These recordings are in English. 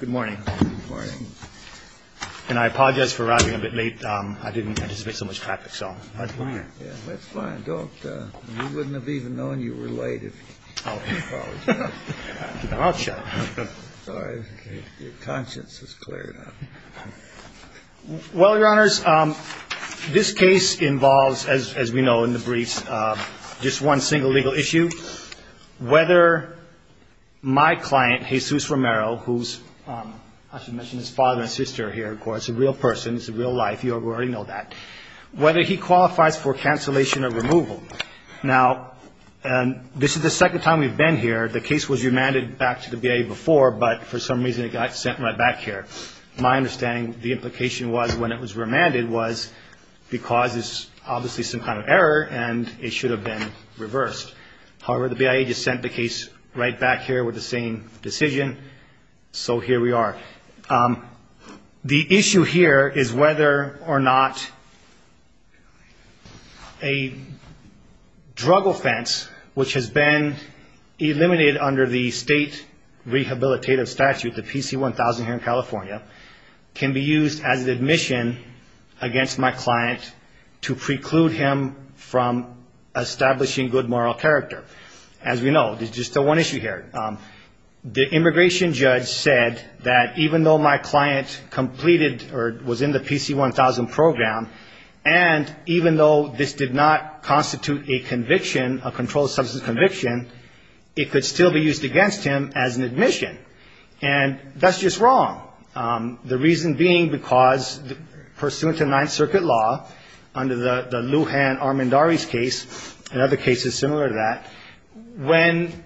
Good morning. Good morning. And I apologize for arriving a bit late. I didn't anticipate so much traffic, so that's fine. That's fine. You wouldn't have even known you were late if you didn't apologize. I'll check. Sorry. Your conscience is clear now. Well, Your Honors, this case involves, as we know in the briefs, just one single legal issue. Whether my client, Jesus Romero, who's, I should mention his father and sister here, of course, a real person, it's a real life, you already know that. Whether he qualifies for cancellation or removal. Now, this is the second time we've been here. The case was remanded back to the BIA before, but for some reason it got sent right back here. My understanding, the implication was when it was remanded was because there's obviously some kind of error and it should have been reversed. However, the BIA just sent the case right back here with the same decision, so here we are. The issue here is whether or not a drug offense, which has been eliminated under the state rehabilitative statute, the PC-1000 here in California, can be used as an admission against my client to preclude him from establishing good moral character. As we know, there's just one issue here. The immigration judge said that even though my client completed or was in the PC-1000 program, and even though this did not constitute a conviction, a controlled substance conviction, it could still be used against him as an admission. And that's just wrong. The reason being because pursuant to Ninth Circuit law, under the Lujan-Armendariz case, and other cases similar to that, when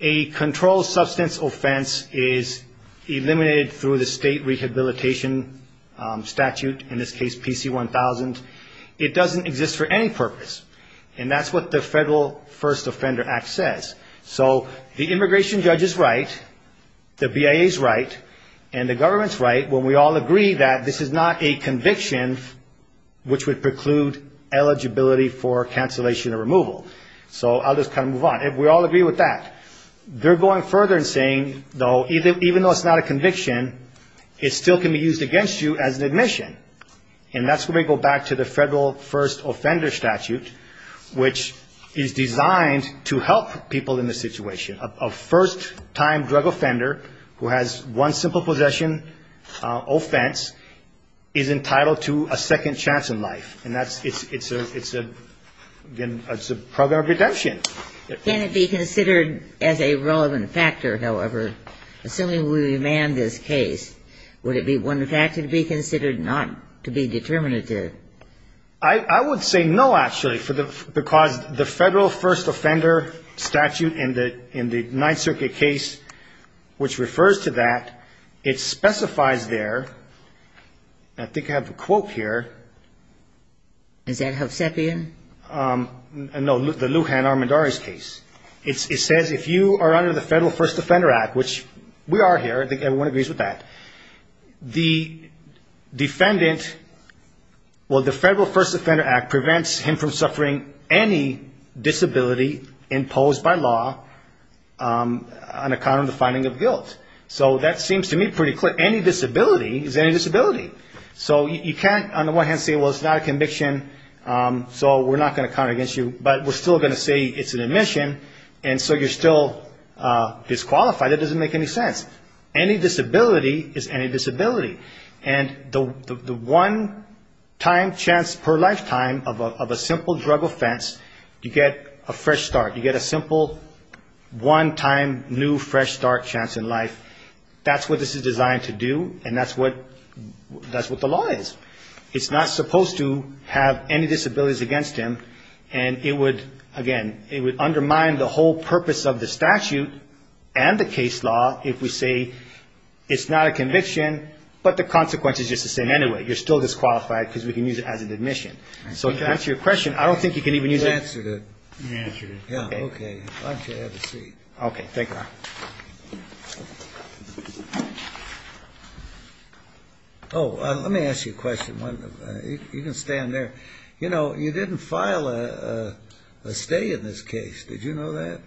a controlled substance offense is eliminated through the state rehabilitation statute, in this case PC-1000, it doesn't exist for any purpose, and that's what the Federal First Offender Act says. So the immigration judge is right, the BIA is right, and the government is right when we all agree that this is not a conviction which would preclude eligibility for cancellation or removal. So I'll just kind of move on. We all agree with that. They're going further and saying, though, even though it's not a conviction, it still can be used against you as an admission. And that's when we go back to the Federal First Offender Statute, which is designed to help people in this situation. A first-time drug offender who has one simple possession offense is entitled to a second chance in life. And that's – it's a – it's a – again, it's a program of redemption. Can it be considered as a relevant factor, however, assuming we remand this case? Would it be one factor to be considered not to be determinative? I would say no, actually, because the Federal First Offender Statute in the Ninth Circuit case, which refers to that, it specifies there – I think I have a quote here. Is that Hovsepian? No, the Lujan Armendariz case. It says if you are under the Federal First Offender Act, which we are here, I think everyone agrees with that, the defendant – well, the Federal First Offender Act prevents him from suffering any disability imposed by law on account of the finding of guilt. So that seems to me pretty clear. Any disability is any disability. So you can't, on the one hand, say, well, it's not a conviction. So we're not going to count it against you. But we're still going to say it's an admission. And so you're still disqualified. It doesn't make any sense. Any disability is any disability. And the one-time chance per lifetime of a simple drug offense, you get a fresh start. You get a simple one-time new fresh start chance in life. That's what this is designed to do. And that's what – that's what the law is. It's not supposed to have any disabilities against him. And it would, again, it would undermine the whole purpose of the statute and the case law if we say it's not a conviction, but the consequence is just the same anyway. You're still disqualified because we can use it as an admission. So to answer your question, I don't think you can even use it. You answered it. You answered it. Yeah, okay. Why don't you have a seat? Okay, thank you. Oh, let me ask you a question. You can stand there. You know, you didn't file a stay in this case. Did you know that?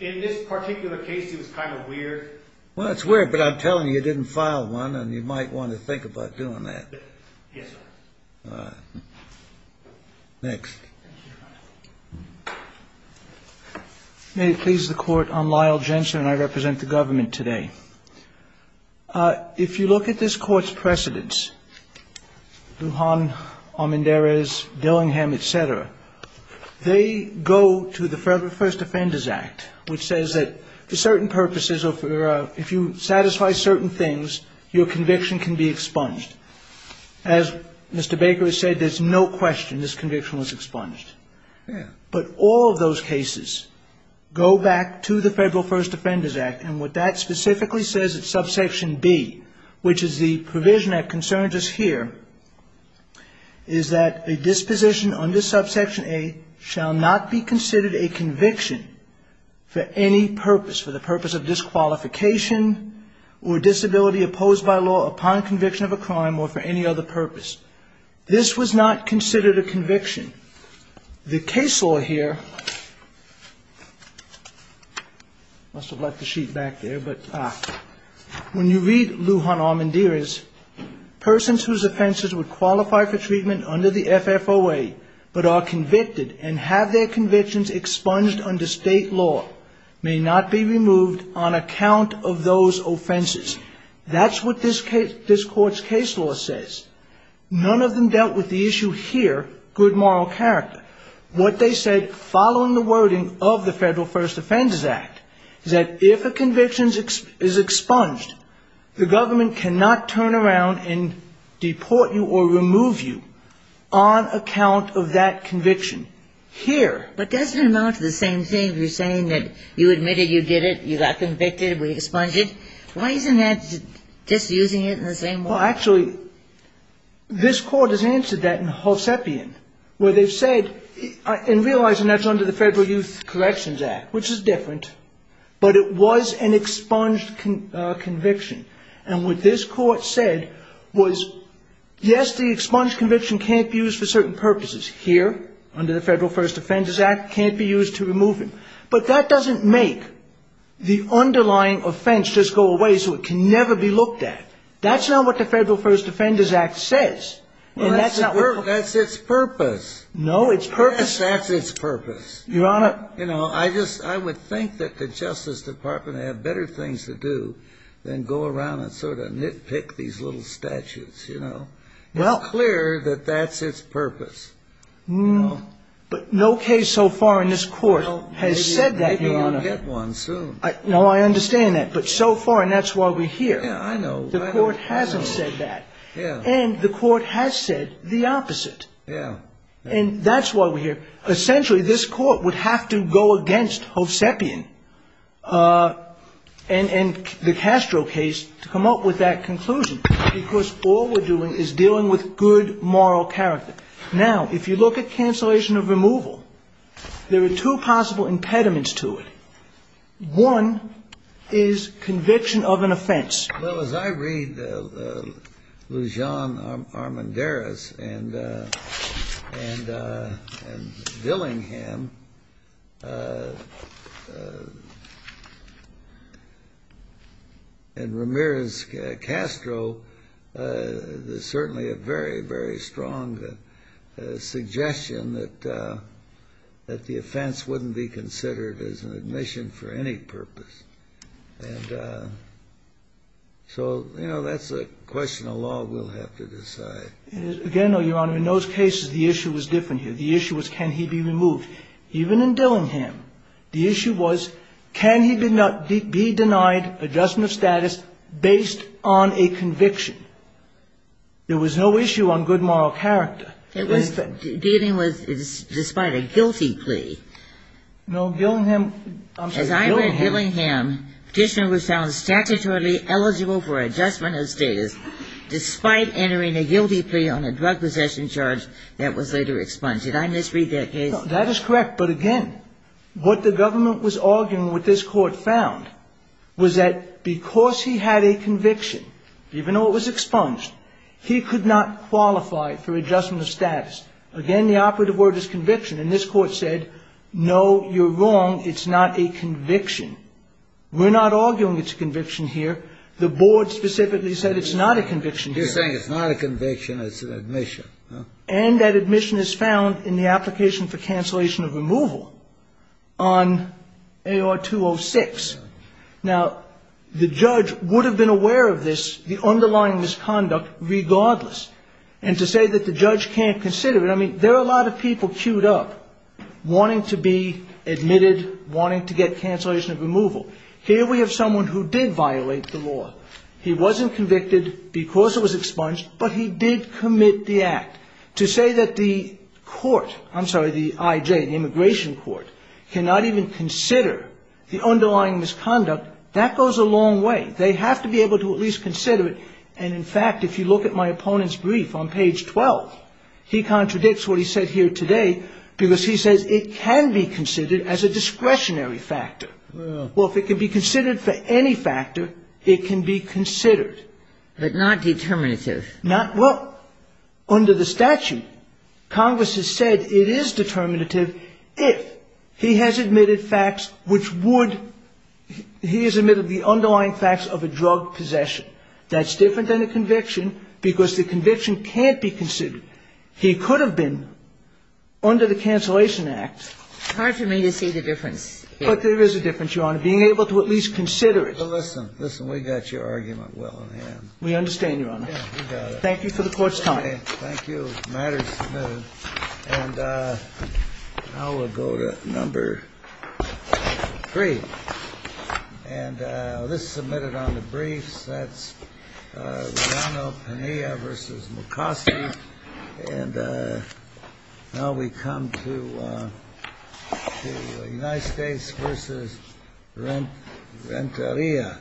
In this particular case, it was kind of weird. Well, it's weird, but I'm telling you, you didn't file one, and you might want to think about doing that. Yes, sir. All right. Next. May it please the Court, I'm Lyle Jensen, and I represent the government today. If you look at this Court's precedents, Lujan, Almendarez, Dillingham, et cetera, they go to the Federal First Offenders Act, which says that for certain purposes, if you satisfy certain things, your conviction can be expunged. As Mr. Baker has said, there's no question this conviction was expunged. Yeah. But all of those cases go back to the Federal First Offenders Act, and what that specifically says at subsection B, which is the provision that concerns us here, is that a disposition under subsection A shall not be considered a conviction for any purpose, for the purpose of disqualification or disability opposed by law upon conviction of a crime or for any other purpose. This was not considered a conviction. The case law here, I must have left the sheet back there, but when you read Lujan Almendarez, persons whose offenses would qualify for treatment under the FFOA but are convicted and have their convictions expunged under state law may not be removed on account of those offenses. That's what this Court's case law says. None of them dealt with the issue here, good moral character. What they said following the wording of the Federal First Offenders Act is that if a conviction is expunged, the government cannot turn around and deport you or remove you on account of that conviction. Here. But doesn't it amount to the same thing? You're saying that you admitted you did it, you got convicted, we expunged you. Why isn't that just using it in the same way? Well, actually, this Court has answered that in Hosepian, where they've said, and realizing that's under the Federal Youth Corrections Act, which is different, but it was an expunged conviction. And what this Court said was, yes, the expunged conviction can't be used for certain purposes. Here, under the Federal First Offenders Act, can't be used to remove him. But that doesn't make the underlying offense just go away so it can never be looked at. That's not what the Federal First Offenders Act says. That's its purpose. No, its purpose. That's its purpose. I would think that the Justice Department had better things to do than go around and sort of nitpick these little statutes. It's clear that that's its purpose. But no case so far in this Court has said that, Your Honor. Maybe you'll get one soon. No, I understand that. But so far, and that's why we're here, the Court hasn't said that. And the Court has said the opposite. And that's why we're here. Essentially, this Court would have to go against Hovsepian and the Castro case to come up with that conclusion, because all we're doing is dealing with good moral character. Now, if you look at cancellation of removal, there are two possible impediments to it. One is conviction of an offense. Well, as I read Lujan Armendariz and Dillingham and Ramirez Castro, there's certainly a very, very strong suggestion that the offense wouldn't be considered as an admission for any purpose. And so, you know, that's a question of law we'll have to decide. Again, Your Honor, in those cases, the issue was different here. The issue was can he be removed. Even in Dillingham, the issue was can he be denied adjustment of status based on a conviction. There was no issue on good moral character. It was dealing with, despite a guilty plea. No, Dillingham. As I read Dillingham, petitioner was found statutorily eligible for adjustment of status, despite entering a guilty plea on a drug possession charge that was later expunged. Did I misread that case? No, that is correct. But, again, what the government was arguing, what this Court found, was that because he had a conviction, even though it was expunged, he could not qualify for adjustment of status. Again, the operative word is conviction. And this Court said, no, you're wrong, it's not a conviction. We're not arguing it's a conviction here. The Board specifically said it's not a conviction here. You're saying it's not a conviction, it's an admission. And that admission is found in the application for cancellation of removal on AR-206. Now, the judge would have been aware of this, the underlying misconduct, regardless. And to say that the judge can't consider it, I mean, there are a lot of people queued up wanting to be admitted, wanting to get cancellation of removal. Here we have someone who did violate the law. He wasn't convicted because it was expunged, but he did commit the act. To say that the court, I'm sorry, the IJ, the immigration court, cannot even consider the underlying misconduct, that goes a long way. They have to be able to at least consider it. And, in fact, if you look at my opponent's brief on page 12, he contradicts what he said here today because he says it can be considered as a discretionary factor. Well, if it can be considered for any factor, it can be considered. But not determinative. Not, well, under the statute, Congress has said it is determinative if he has admitted facts which would, he has admitted the underlying facts of a drug possession. That's different than a conviction because the conviction can't be considered. He could have been under the Cancellation Act. It's hard for me to see the difference here. But there is a difference, Your Honor, being able to at least consider it. Well, listen. Listen, we got your argument well in hand. We understand, Your Honor. Yeah, we got it. Thank you for the Court's time. Thank you. The matter is submitted. And now we'll go to number three. And this is submitted on the briefs. That's Guillano-Pena vs. McCoskey. And now we come to United States vs. Renteria.